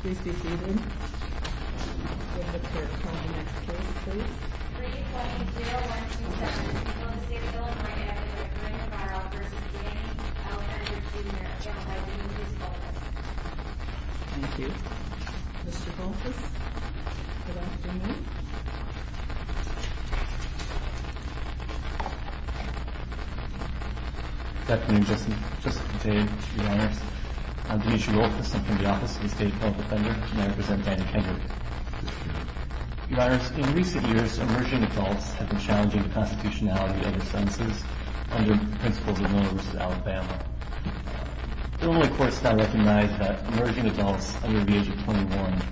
Please be seated. We have a clerk calling next case, please. 3-20-0-1-2-7-0-6-0-9-F-9-R-O-V-C-A-L-N-R-2-J-Y-T-U-S-F-O-L-T-S Thank you. Mr. Foulkes, good afternoon. Good afternoon, Justice Conte, Your Honors. I'm Dimitri Foulkes. I'm from the Office of the State Appellate Defender, and I represent Danny Kendrick. Your Honors, in recent years, emerging adults have been challenging the constitutionality of their sentences under the principles of Miller v. Alabama. Normally, courts now recognize that emerging adults under the age of 21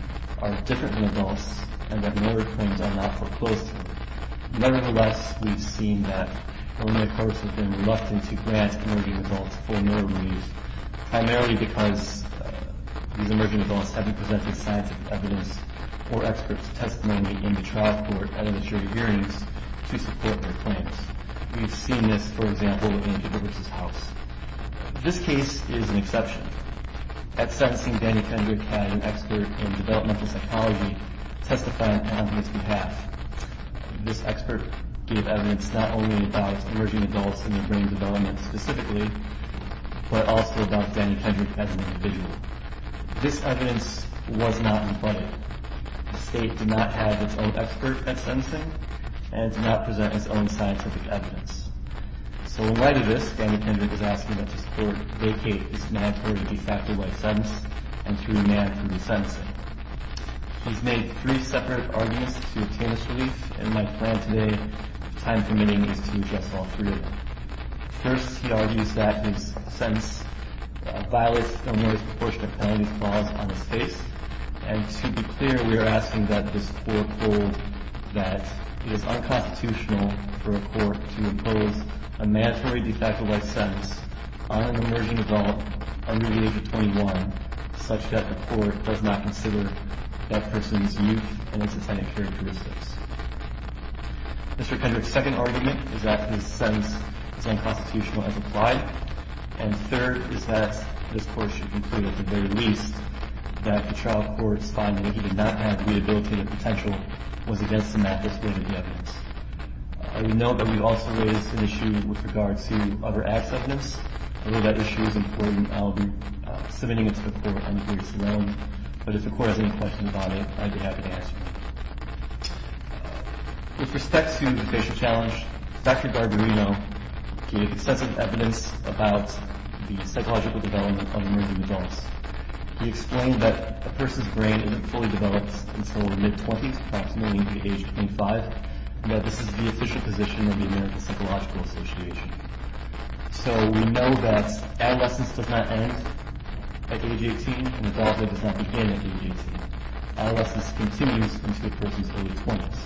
are different from adults and that Miller claims are not foreclosed to them. Nevertheless, we've seen that normally courts have been reluctant to grant emerging adults full Miller relief, primarily because these emerging adults haven't presented scientific evidence or expert testimony in the trial court at initiative hearings to support their claims. We've seen this, for example, in DeRivers' house. This case is an exception. At sentencing, Danny Kendrick had an expert in developmental psychology testify on his behalf. This expert gave evidence not only about emerging adults in the brain development specifically, but also about Danny Kendrick as an individual. This evidence was not included. The state did not have its own expert at sentencing and did not present its own scientific evidence. So in light of this, Danny Kendrick is asking that this court vacate this mandatory de facto life sentence and to remand from the sentencing. He's made three separate arguments to obtain this relief, and my plan today, time permitting, is to address all three of them. First, he argues that his sentence violates a more disproportionate penalty clause on his case. And to be clear, we are asking that this court hold that it is unconstitutional for a court to impose a mandatory de facto life sentence on an emerging adult under the age of 21, such that the court does not consider that person's youth and its attaining characteristics. Mr. Kendrick's second argument is that his sentence is unconstitutional as applied. And third is that this court should conclude, at the very least, that the trial court's finding that he did not have rehabilitative potential was against the mathless weight of the evidence. I would note that we also raised an issue with regard to other acts of evidence. I know that issue is important. I'll be submitting it to the court on its own. But if the court has any questions about it, I'd be happy to answer them. With respect to the facial challenge, Dr. Garbarino gave extensive evidence about the psychological development of emerging adults. He explained that a person's brain isn't fully developed until the mid-20s, approximately the age of 25, and that this is the official position of the American Psychological Association. So we know that adolescence does not end at age 18, and adulthood does not begin at age 18. Adolescence continues until a person's early 20s.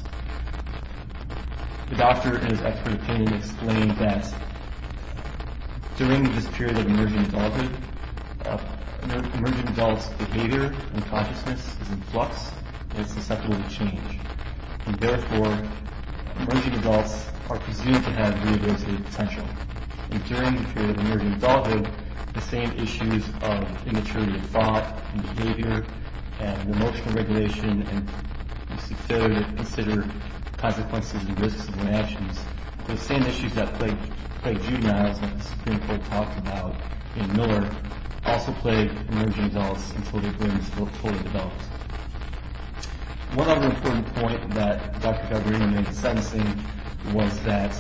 The doctor, in his expert opinion, explained that during this period of emerging adulthood, emerging adult's behavior and consciousness is in flux and is susceptible to change. And therefore, emerging adults are presumed to have rehabilitative potential. And during the period of emerging adulthood, the same issues of immaturity of thought and behavior and emotional regulation and failure to consider consequences and risks of actions, the same issues that plagued juveniles, like the Supreme Court talked about in Miller, also plagued emerging adults until their brains were fully developed. One other important point that Dr. Garbarino made sensing was that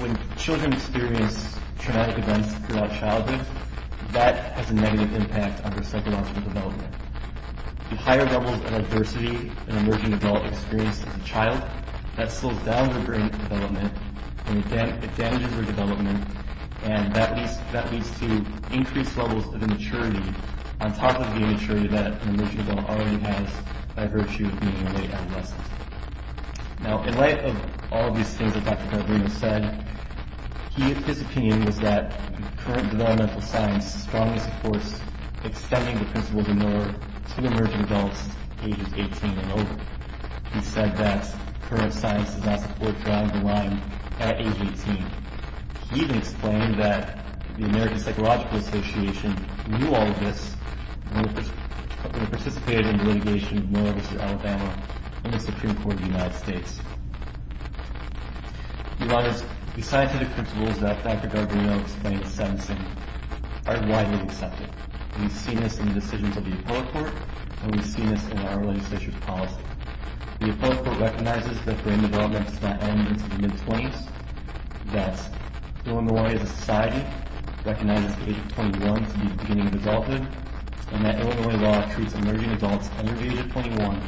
when children experience traumatic events throughout childhood, that has a negative impact on their psychological development. The higher levels of adversity an emerging adult experiences as a child, that slows down their brain development, and it damages their development, and that leads to increased levels of immaturity, on top of the immaturity that an emerging adult already has by virtue of being early adolescent. Now, in light of all of these things that Dr. Garbarino said, his opinion was that current developmental science strongly supports extending the principle of the Miller to emerging adults ages 18 and over. He said that current science does not support drawing the line at age 18. He even explained that the American Psychological Association knew all of this when they participated in the litigation of Miller v. Alabama and the Supreme Court of the United States. The scientific principles that Dr. Garbarino explained sensing are widely accepted. We've seen this in the decisions of the Appellate Court, and we've seen this in our legislature's policy. The Appellate Court recognizes that brain development does not end until the mid-20s, that Illinois as a society recognizes the age of 21 to be the beginning of adulthood, and that Illinois law treats emerging adults under the age of 21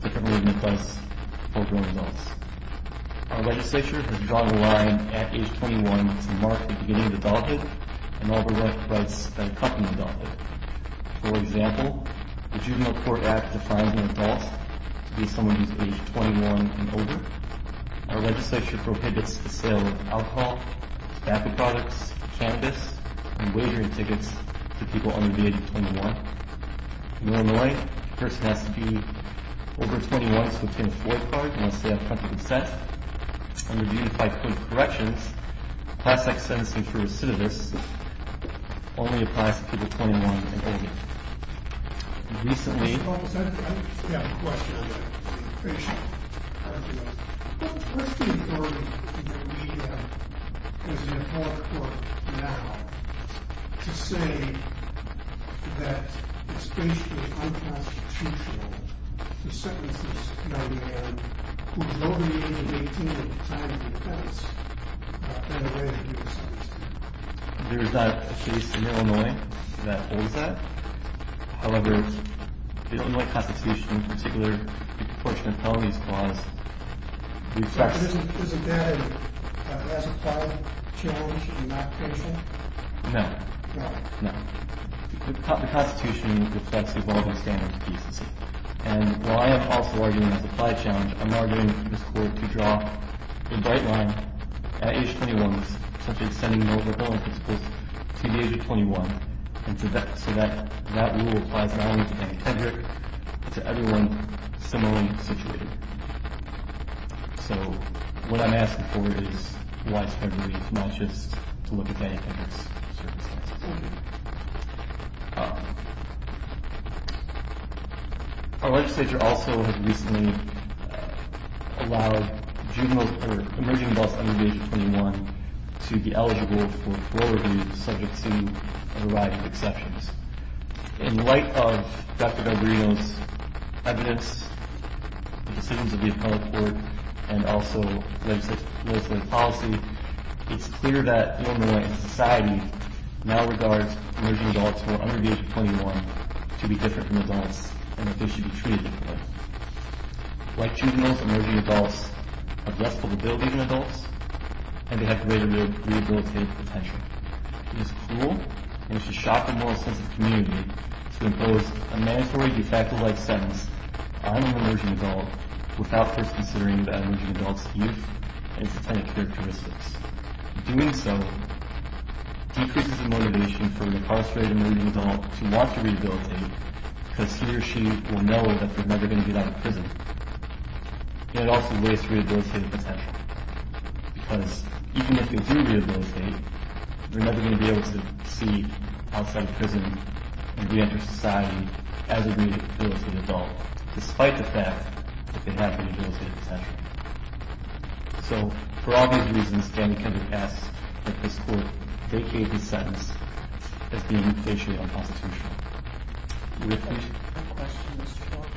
differently than it does for grown adults. Our legislature has drawn the line at age 21 to mark the beginning of adulthood and all the rights that accompany adulthood. For example, the juvenile court act defines an adult to be someone who is age 21 and older. Our legislature prohibits the sale of alcohol, tobacco products, cannabis, and wagering tickets to people under the age of 21. In Illinois, a person has to be over 21 to obtain a FOIA card and must stay up front to consent. Under the unified court of corrections, plastic sentencing for recidivists only applies to people 21 and older. Recently... I have a question on that. What's the authority in the media, as in the Appellate Court now, to say that it's basically unconstitutional to sentence this young man, who's over the age of 18, in time of defense, in a way that he was sentenced to? There is not a case in Illinois that holds that. However, the Illinois Constitution, in particular, the Proportionate Penalties Clause, reflects... So isn't that a classified challenge and not official? No. No? No. The Constitution reflects the evolving standards of decency. And while I am also arguing it's a classified challenge, I'm now arguing it's cool to draw a bright line at age 21, such as sending an older adult that's close to the age of 21, so that rule applies not only to any tender, but to everyone similarly situated. So what I'm asking for is widespread relief, not just to look at anything that's circumspect. Our legislature also has recently allowed emerging adults under the age of 21 to be eligible for parole reviews subject to a variety of exceptions. In light of Dr. Valverdeo's evidence, the decisions of the Appellate Court, and also the legislature's policy, it's clear that Illinois society now regards emerging adults who are under the age of 21 to be different from adults, and that they should be treated differently. Like juveniles, emerging adults are less likely to be able to be even adults, and they have greater rehabilitative potential. It is cruel and it should shock the moral sense of the community to impose a mandatory de facto life sentence on an emerging adult without first considering the emerging adult's youth and systemic characteristics. Doing so decreases the motivation for an incarcerated emerging adult to want to rehabilitate, because he or she will know that they're never going to get out of prison. It also wastes rehabilitative potential, because even if you do rehabilitate, you're never going to be able to see outside prison and reenter society as a rehabilitated adult, despite the fact that they have rehabilitative potential. So, for obvious reasons, standing can be passed that this Court vacate the sentence as being patiently unconstitutional. My question is short.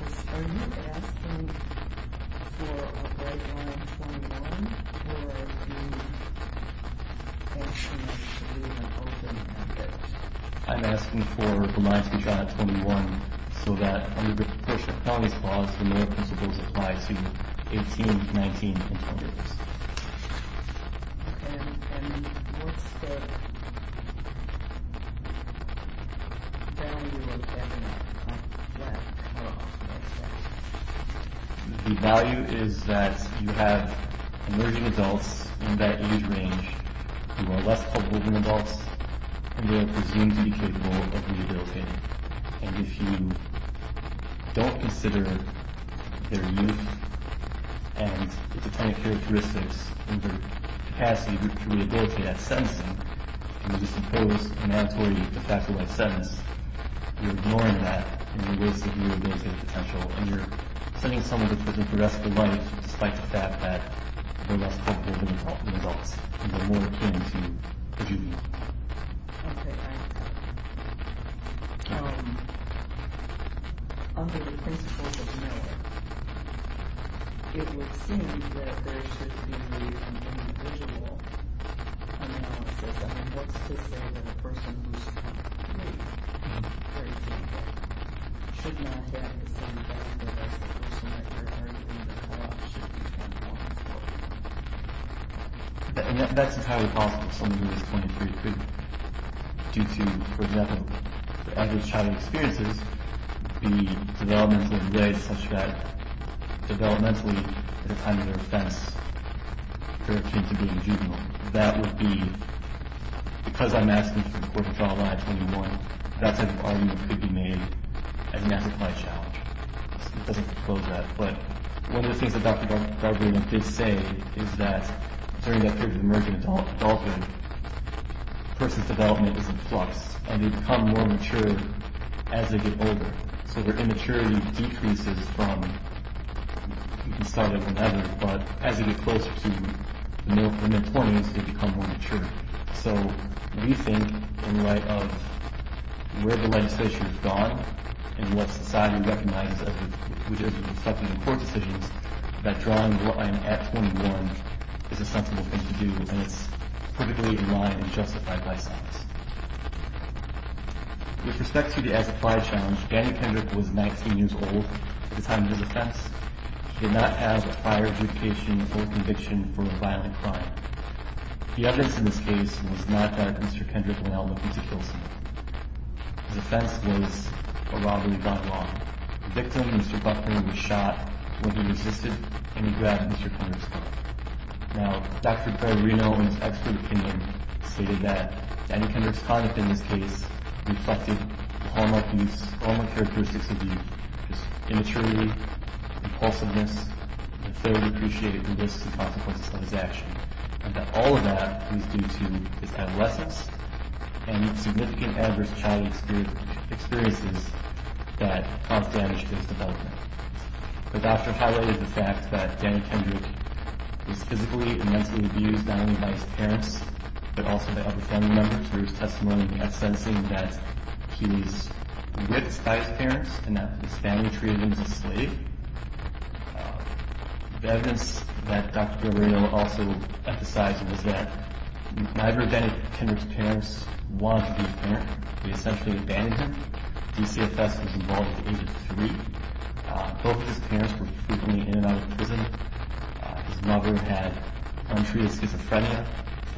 Are you asking for a break on age 21, or are you asking for an open end date? I'm asking for a remand to be shot at 21, so that under the proportion of felonies clause, the moral principles apply to 18, 19, and 20 years. And what's the value of that clause? The value is that you have emerging adults in that age range who are less culpable than adults who are presumed to be capable of rehabilitating. And if you don't consider their youth and the different characteristics and their capacity to rehabilitate at sentencing, and you just impose a mandatory de facto life sentence, you're ignoring that and you're wasting rehabilitative potential, and you're sending someone to prison for the rest of their life, despite the fact that they're less culpable than adults, and they're more akin to a juvenile. Okay, I understand. Under the principles of NOAA, it would seem that there should be an individual analysis on what's to say that a person who's 18 should not get a sentence because the person that they're targeting to cut off should be 21 years old. And that's entirely possible. Someone who is 23 could, due to, for example, their average childhood experiences, be developmentally red, such that, developmentally, it's kind of their offense to be a juvenile. That would be, because I'm asking for the court to draw a line at 21, that type of argument could be made as an amplified challenge. It doesn't disclose that. But one of the things that Dr. Gregory did say is that during that period of emergent adulthood, a person's development is in flux, and they become more mature as they get older. So their immaturity decreases from, you can start at whatever, but as they get closer to the mid-20s, they become more mature. So we think, in light of where the legislation has gone, and what society recognizes as reflecting on court decisions, that drawing a line at 21 is a sensible thing to do, and it's perfectly in line and justified by science. With respect to the as-applied challenge, Danny Kendrick was 19 years old at the time of his offense. He did not have a prior adjudication or conviction for a violent crime. The evidence in this case was not that Mr. Kendrick went out looking to kill someone. His offense was a robbery by law. The victim, Mr. Buckner, was shot when he resisted, and he grabbed Mr. Kendrick's collar. Now, Dr. Gregory, knowing his expert opinion, stated that Danny Kendrick's conduct in this case reflected the harmonic characteristics of youth, his immaturity, repulsiveness, and the failure to appreciate the risks and consequences of his action. And that all of that was due to his adolescence, and significant adverse childhood experiences that caused damage to his development. The doctor highlighted the fact that Danny Kendrick was physically and mentally abused not only by his parents, but also by other family members through his testimony, not sensing that he was whipped by his parents and that his family treated him as a slave. The evidence that Dr. Guerrero also emphasized was that neither of Danny Kendrick's parents wanted to be a parent. They essentially abandoned him. DCFS was involved at the age of three. Both of his parents were frequently in and out of prison. His mother had untreated schizophrenia,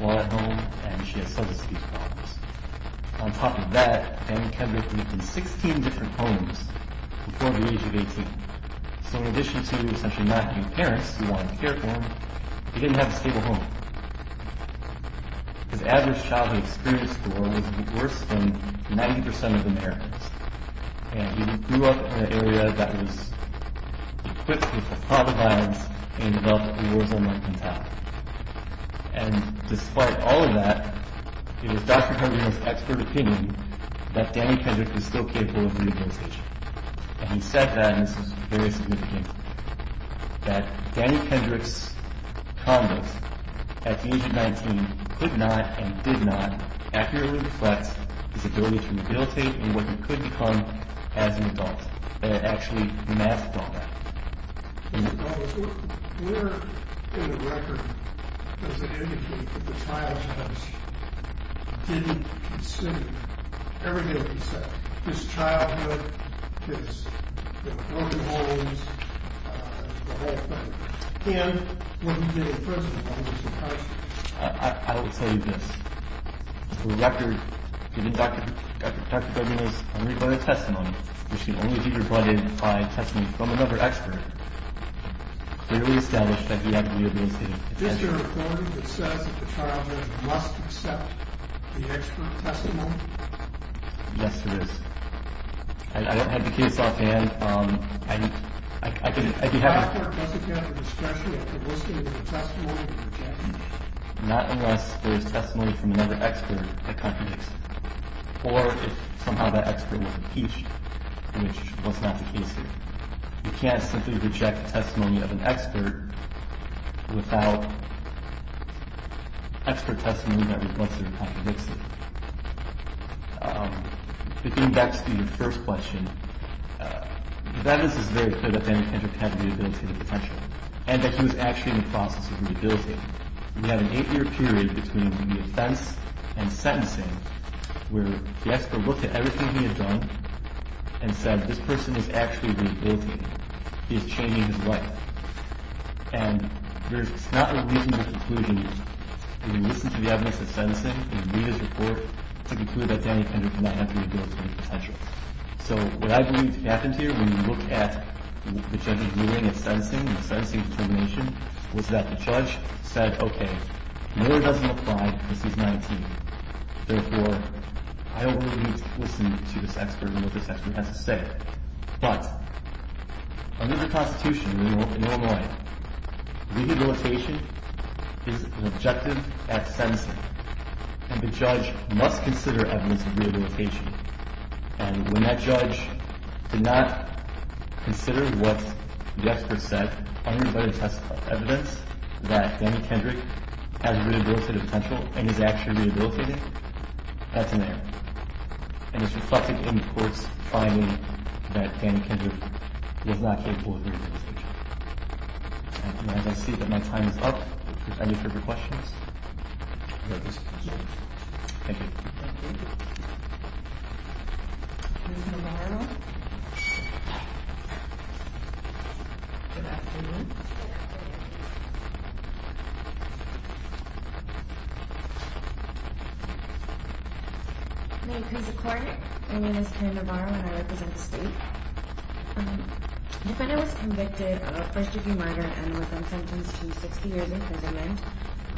was law at home, and she had substance abuse problems. On top of that, Danny Kendrick lived in 16 different homes before the age of 18. So in addition to essentially not having parents who wanted to care for him, he didn't have a stable home. His adverse childhood experience score was worse than 90% of Americans, and he grew up in an area that was equipped with the thought of violence and developed a war zone mentality. And despite all of that, it was Dr. Guerrero's expert opinion that Danny Kendrick was still capable of rehabilitation. And he said that, and this was very significant, that Danny Kendrick's conduct at the age of 19 could not and did not accurately reflect his ability to rehabilitate and what he could become as an adult. And it actually masked all that. Where in the record does it indicate that the child judge didn't consider everything that he said? His childhood, his working homes, the whole thing. And what he did in prison, I'm just surprised. I will tell you this. The record, even Dr. Guerrero's own testimony, which can only be brought in by testimony from another expert, clearly established that he had rehabilitative potential. Is this your recording that says that the child judge must accept the expert testimony? Yes, it is. I don't have the case offhand. If the expert doesn't have a discretion, I can list it as a testimony and reject it. Not unless there is testimony from another expert that contradicts it. Or if somehow that expert was impeached, which was not the case here. You can't simply reject testimony of an expert without expert testimony that was listed and contradicts it. Getting back to your first question, the evidence is very clear that Daniel Kendrick had rehabilitative potential and that he was actually in the process of rehabilitating. We have an eight-year period between the offense and sentencing where the expert looked at everything he had done and said, this person is actually rehabilitating. He is changing his life. And there's not a reasonable conclusion. You can listen to the evidence of sentencing and read his report to conclude that Daniel Kendrick did not have rehabilitative potential. So what I believe happened here when you look at the judge's viewing of sentencing and sentencing determination was that the judge said, okay, Miller doesn't apply because he's 19. Therefore, I don't really need to listen to this expert and what this expert has to say. But under the Constitution in Illinois, rehabilitation is an objective at sentencing. And the judge must consider evidence of rehabilitation. And when that judge did not consider what the expert said, only by the test of evidence that Daniel Kendrick has rehabilitative potential and is actually rehabilitating, that's an error. And it's reflected in the court's finding that Daniel Kendrick was not capable of rehabilitation. And I see that my time is up. Any further questions? Thank you. Ms. Navarro. Good afternoon. My name is Courtney. The defendant was convicted of first-degree murder and was then sentenced to 60 years imprisonment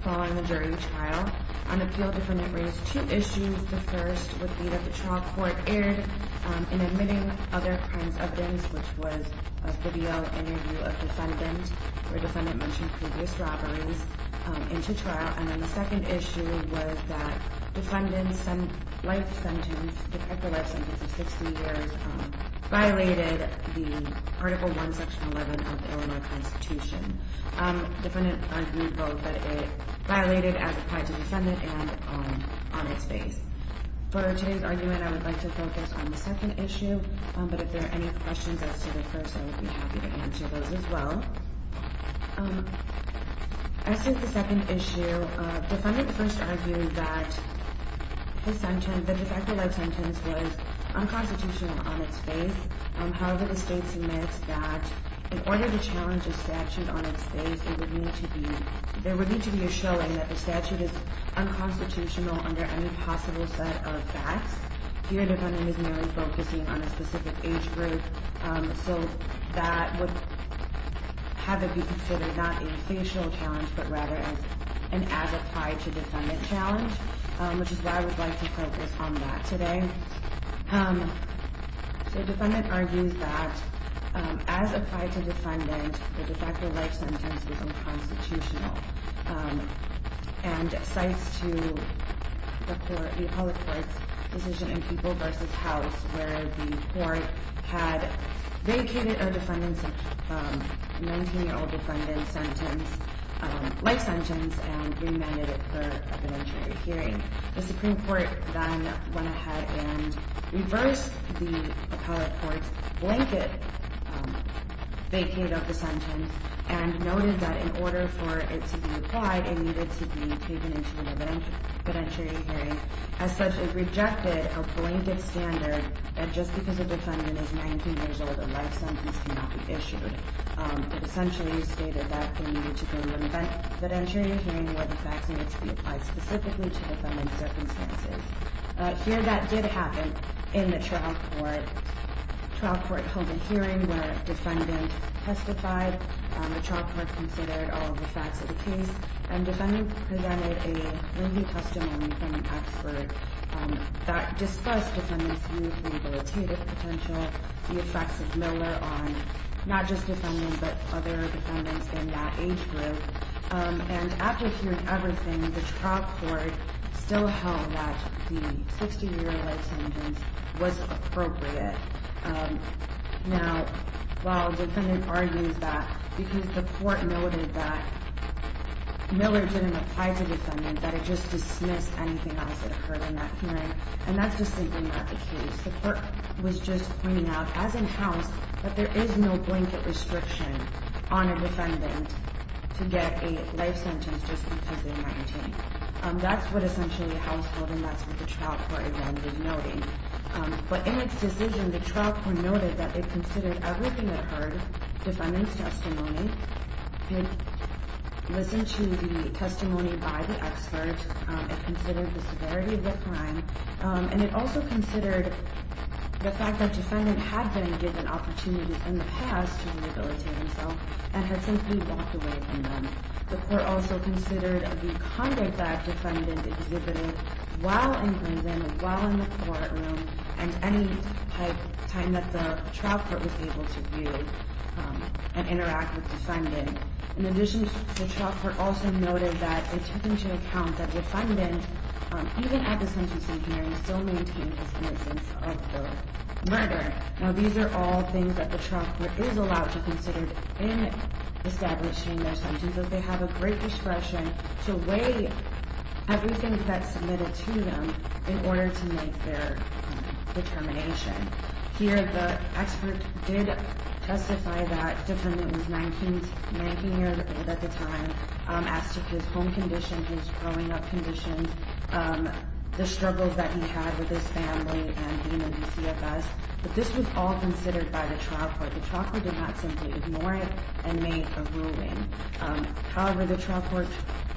following the jury trial. On appeal, the defendant raised two issues. The first would be that the trial court erred in admitting other crimes of evidence, which was a video interview of the defendant where the defendant mentioned previous robberies into trial. And then the second issue was that the defendant's life sentence, the de facto life sentence of 60 years, violated the Article I, Section 11 of the Illinois Constitution. The defendant argued both that it violated as applied to the defendant and on its face. For today's argument, I would like to focus on the second issue. But if there are any questions as to the first, I would be happy to answer those as well. As to the second issue, the defendant first argued that the de facto life sentence was unconstitutional on its face. However, the state submits that in order to challenge a statute on its face, there would need to be a showing that the statute is unconstitutional under any possible set of facts. Here, the defendant is merely focusing on a specific age group, so that would have it be considered not a facial challenge, but rather an as-applied-to-defendant challenge, which is why I would like to focus on that today. The defendant argues that as applied to defendant, the de facto life sentence was unconstitutional. And cites to the other court's decision in People v. House where the court had vacated a 19-year-old defendant's life sentence and remanded it for evidentiary hearing. The Supreme Court then went ahead and reversed the appellate court's blanket vacate of the sentence and noted that in order for it to be applied, it needed to be taken into an evidentiary hearing. As such, it rejected a blanket standard that just because a defendant is 19 years old, a life sentence cannot be issued. It essentially stated that it needed to be in an evidentiary hearing where the facts needed to be applied specifically to the defendant's circumstances. Here, that did happen in the trial court. The trial court held a hearing where the defendant testified, the trial court considered all of the facts of the case, and the defendant presented a lengthy testimony from an expert that discussed the defendant's new rehabilitative potential, the effects of Miller on not just the defendant but other defendants in that age group. And after hearing everything, the trial court still held that the 60-year life sentence was appropriate. Now, while the defendant argues that, because the court noted that Miller didn't apply to the defendant, that it just dismissed anything else that occurred in that hearing, and that's just simply not the case. The court was just pointing out, as in trials, that there is no blanket restriction on a defendant to get a life sentence just because they're 19. That's what essentially the house held, and that's what the trial court again was noting. But in its decision, the trial court noted that it considered everything that occurred, the defendant's testimony, it listened to the testimony by the expert, it considered the severity of the crime, and it also considered the fact that the defendant had been given opportunities in the past to rehabilitate himself and had simply walked away from them. The court also considered the conduct that the defendant exhibited while in prison, while in the courtroom, and any time that the trial court was able to view and interact with the defendant. In addition, the trial court also noted that it took into account that the defendant, even at the sentencing hearing, still maintained his innocence of the murder. Now, these are all things that the trial court is allowed to consider in establishing their sentencing, but they have a great discretion to weigh everything that's submitted to them in order to make their determination. Here, the expert did testify that the defendant was 19 years old at the time, as to his home condition, his growing up condition, the struggles that he had with his family, and being in the CFS, but this was all considered by the trial court. The trial court did not simply ignore it and made a ruling. However, the trial court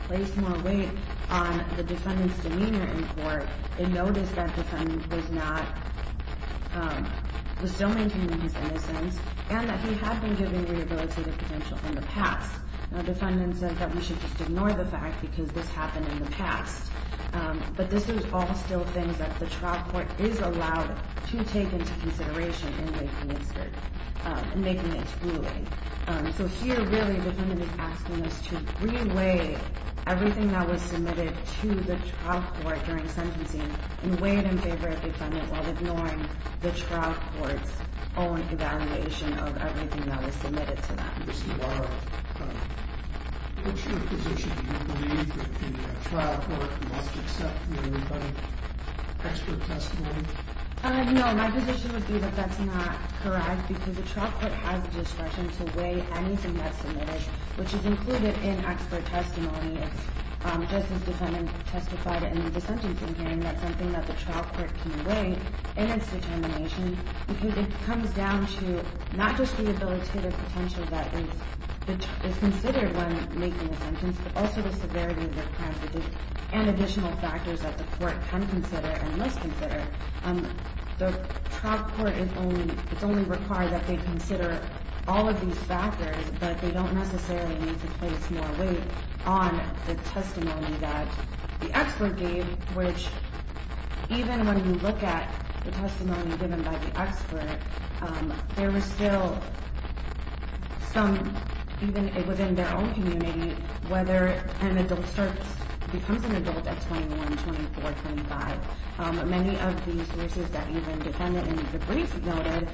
placed more weight on the defendant's demeanor in court and noticed that the defendant was still maintaining his innocence and that he had been given rehabilitative potential in the past. Now, the defendant said that we should just ignore the fact because this happened in the past, but this is all still things that the trial court is allowed to take into consideration in making its ruling. So here, really, the defendant is asking us to re-weigh everything that was submitted to the trial court during sentencing and weigh it in favor of the defendant while ignoring the trial court's own evaluation of everything that was submitted to them. What's your position? Do you believe that the trial court must accept the expert testimony? No, my position would be that that's not correct because the trial court has the discretion to weigh anything that's submitted, which is included in expert testimony as this defendant testified in the sentencing hearing. That's something that the trial court can weigh in its determination because it comes down to not just rehabilitative potential that is considered when making a sentence, but also the severity of their crimes and additional factors that the court can consider and must consider. The trial court, it's only required that they consider all of these factors, but they don't necessarily need to place more weight on the testimony that the expert gave, which even when you look at the testimony given by the expert, there was still some, even within their own community, whether an adult starts, becomes an adult at 21, 24, 25. Many of the sources that even defendant and the police noted,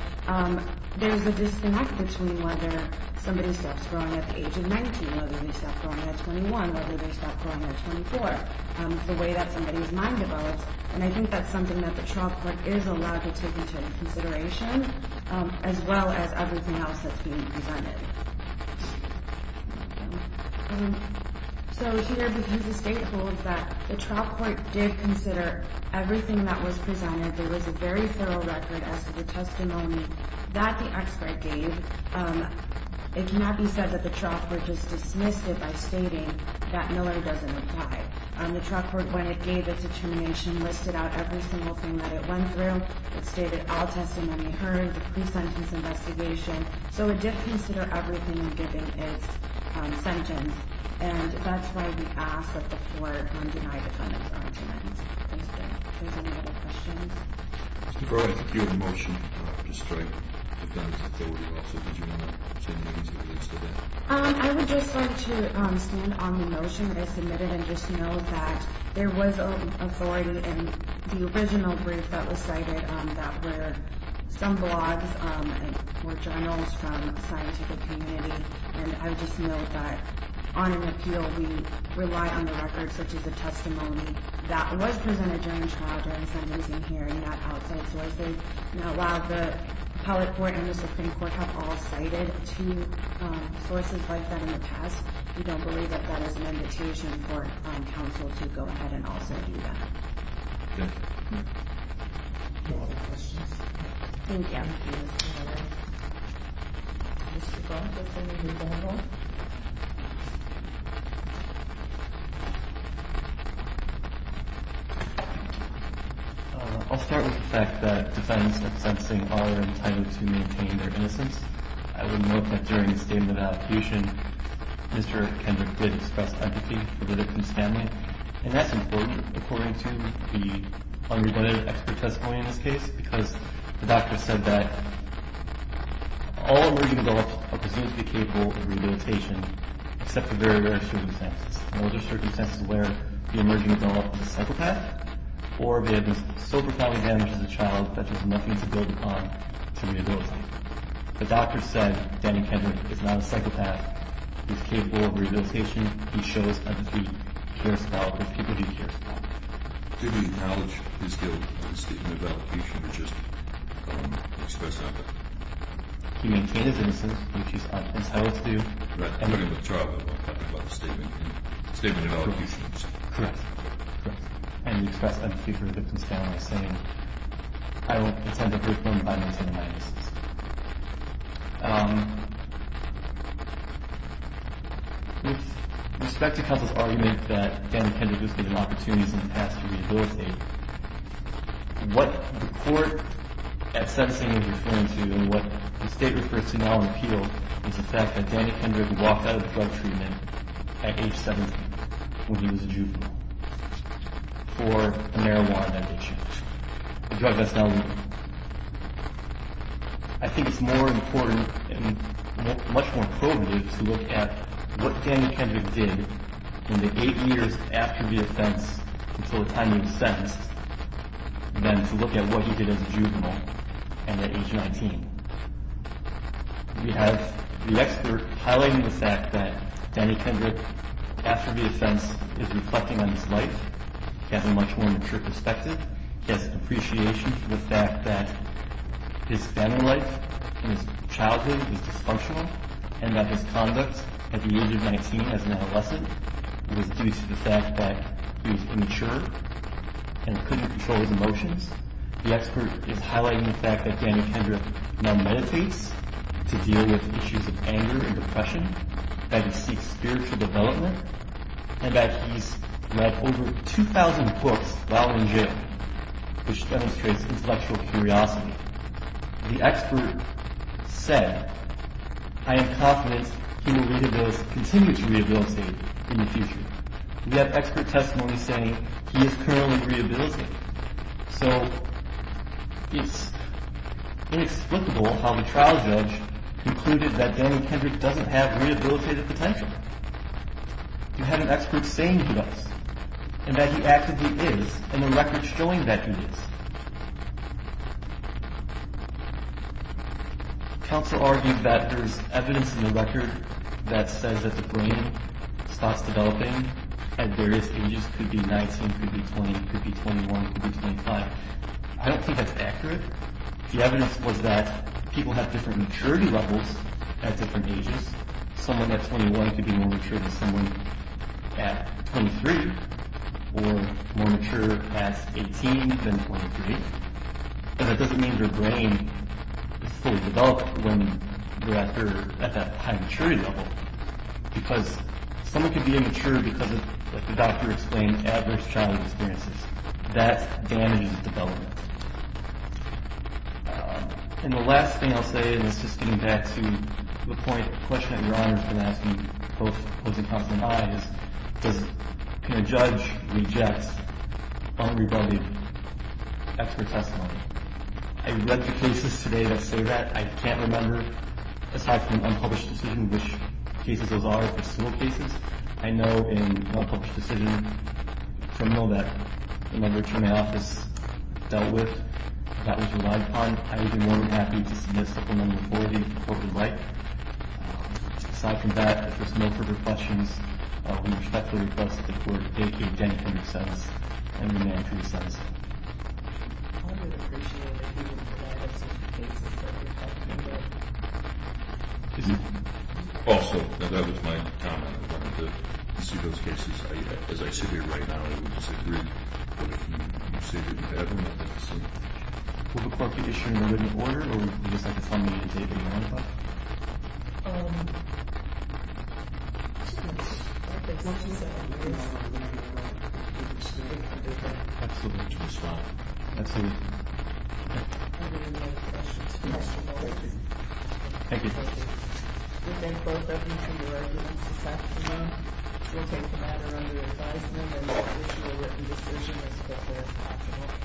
there's a disconnect between whether somebody starts growing at the age of 19, whether they start growing at 21, whether they start growing at 24. It's the way that somebody's mind develops, and I think that's something that the trial court is allowed to take into consideration, as well as everything else that's being presented. So here, because the state holds that the trial court did consider everything that was presented, there was a very thorough record as to the testimony that the expert gave. It cannot be said that the trial court just dismissed it by stating that Miller doesn't apply. The trial court, when it gave its determination, listed out every single thing that it went through. It stated all testimony heard, the pre-sentence investigation. So it did consider everything given its sentence, and that's why we ask that the court not deny the defendant's arguments. Thank you. Are there any other questions? There are a few in the motion. I would just like to stand on the motion that is submitted and just note that there was authority in the original brief that was cited that were some blogs and were journals from the scientific community, and I would just note that on an appeal we rely on the records such as the testimony that was presented during the trial during the sentencing hearing, not outside sources. Now, while the appellate court and the Supreme Court have all cited two sources like that in the past, we don't believe that that is an invitation for counsel to go ahead and also do that. Okay. Any other questions? Thank you. Thank you, Mr. Miller. Mr. Gold, let's take a rebuttal. I'll start with the fact that defendants of sentencing are entitled to maintain their innocence. I would note that during the statement of execution, Mr. Kendrick did express empathy for the victim's family, and that's important according to the unrebutted expert testimony in this case because the doctor said that all emerging adults are presumably capable of rehabilitation except for very rare circumstances. And those are circumstances where the emerging adult is a psychopath or they have been so profoundly damaged as a child that there's nothing to build upon to rehabilitate. The doctor said Danny Kendrick is not a psychopath. He's capable of rehabilitation. He shows a deep care spell for the people he cares about. Did he acknowledge his guilt in the statement of application or just express empathy? He maintained his innocence, which he's entitled to. Right. According to the trial, I'm talking about the statement of allegations. Correct. Correct. And he expressed empathy for the victim's family, saying, I don't intend to hurt them by maintaining my innocence. With respect to counsel's argument that Danny Kendrick is given opportunities in the past to rehabilitate, what the court at sentencing is referring to and what the state refers to now in appeal is the fact that Danny Kendrick walked out of drug treatment at age 17 when he was a juvenile for marijuana addiction, a drug that's now legal. I think it's more important and much more probative to look at what Danny Kendrick did in the eight years after the offense until the time he was sentenced than to look at what he did as a juvenile and at age 19. We have the expert highlighting the fact that Danny Kendrick, after the offense, is reflecting on his life. He has a much more mature perspective. He has appreciation for the fact that his family life and his childhood was dysfunctional and that his conduct at the age of 19 as an adolescent was due to the fact that he was immature and couldn't control his emotions. The expert is highlighting the fact that Danny Kendrick now meditates to deal with issues of anger and depression, that he seeks spiritual development, and that he's read over 2,000 books while in jail, which demonstrates intellectual curiosity. The expert said, I am confident he will continue to rehabilitate in the future. We have expert testimony saying he is currently rehabilitating. So it's inexplicable how the trial judge concluded that Danny Kendrick doesn't have rehabilitative potential. We have an expert saying he does, and that he actively is, and the record's showing that he is. Counsel argued that there's evidence in the record that says that the brain starts developing at various ages. It could be 19, it could be 20, it could be 21, it could be 25. I don't think that's accurate. The evidence was that people have different maturity levels at different ages. Someone at 21 could be more mature than someone at 23 or more mature at 18 than 23. And that doesn't mean their brain is fully developed when they're at that high maturity level, because someone could be immature because, like the doctor explained, adverse childhood experiences. That damages development. And the last thing I'll say, and it's just getting back to the question that Your Honor's been asking, both opposing counsel and I, is can a judge reject unrebutted expert testimony? I read the cases today that say that. I can't remember, aside from an unpublished decision, which cases those are for civil cases. I know in an unpublished decision, a criminal that when I returned to my office dealt with, that was relied upon. I would be more than happy to submit a supplemental authority if the court would like. Aside from that, if there's no further questions, I will respectfully request that the court take the identity of the defense and the name of the defense. Also, that was my comment. I wanted to see those cases. As I sit here right now, I would disagree. But if you say that you have them, I think it's safe. Will the court be issuing a written order? Or would you just like to find me a date and time? I think once you say that, you can stop. Absolutely. We'll stop. Absolutely. Are there any other questions? No. Thank you. We thank both of you for your evidence this afternoon. We'll take the matter under advisement and issue a written decision as quickly as possible.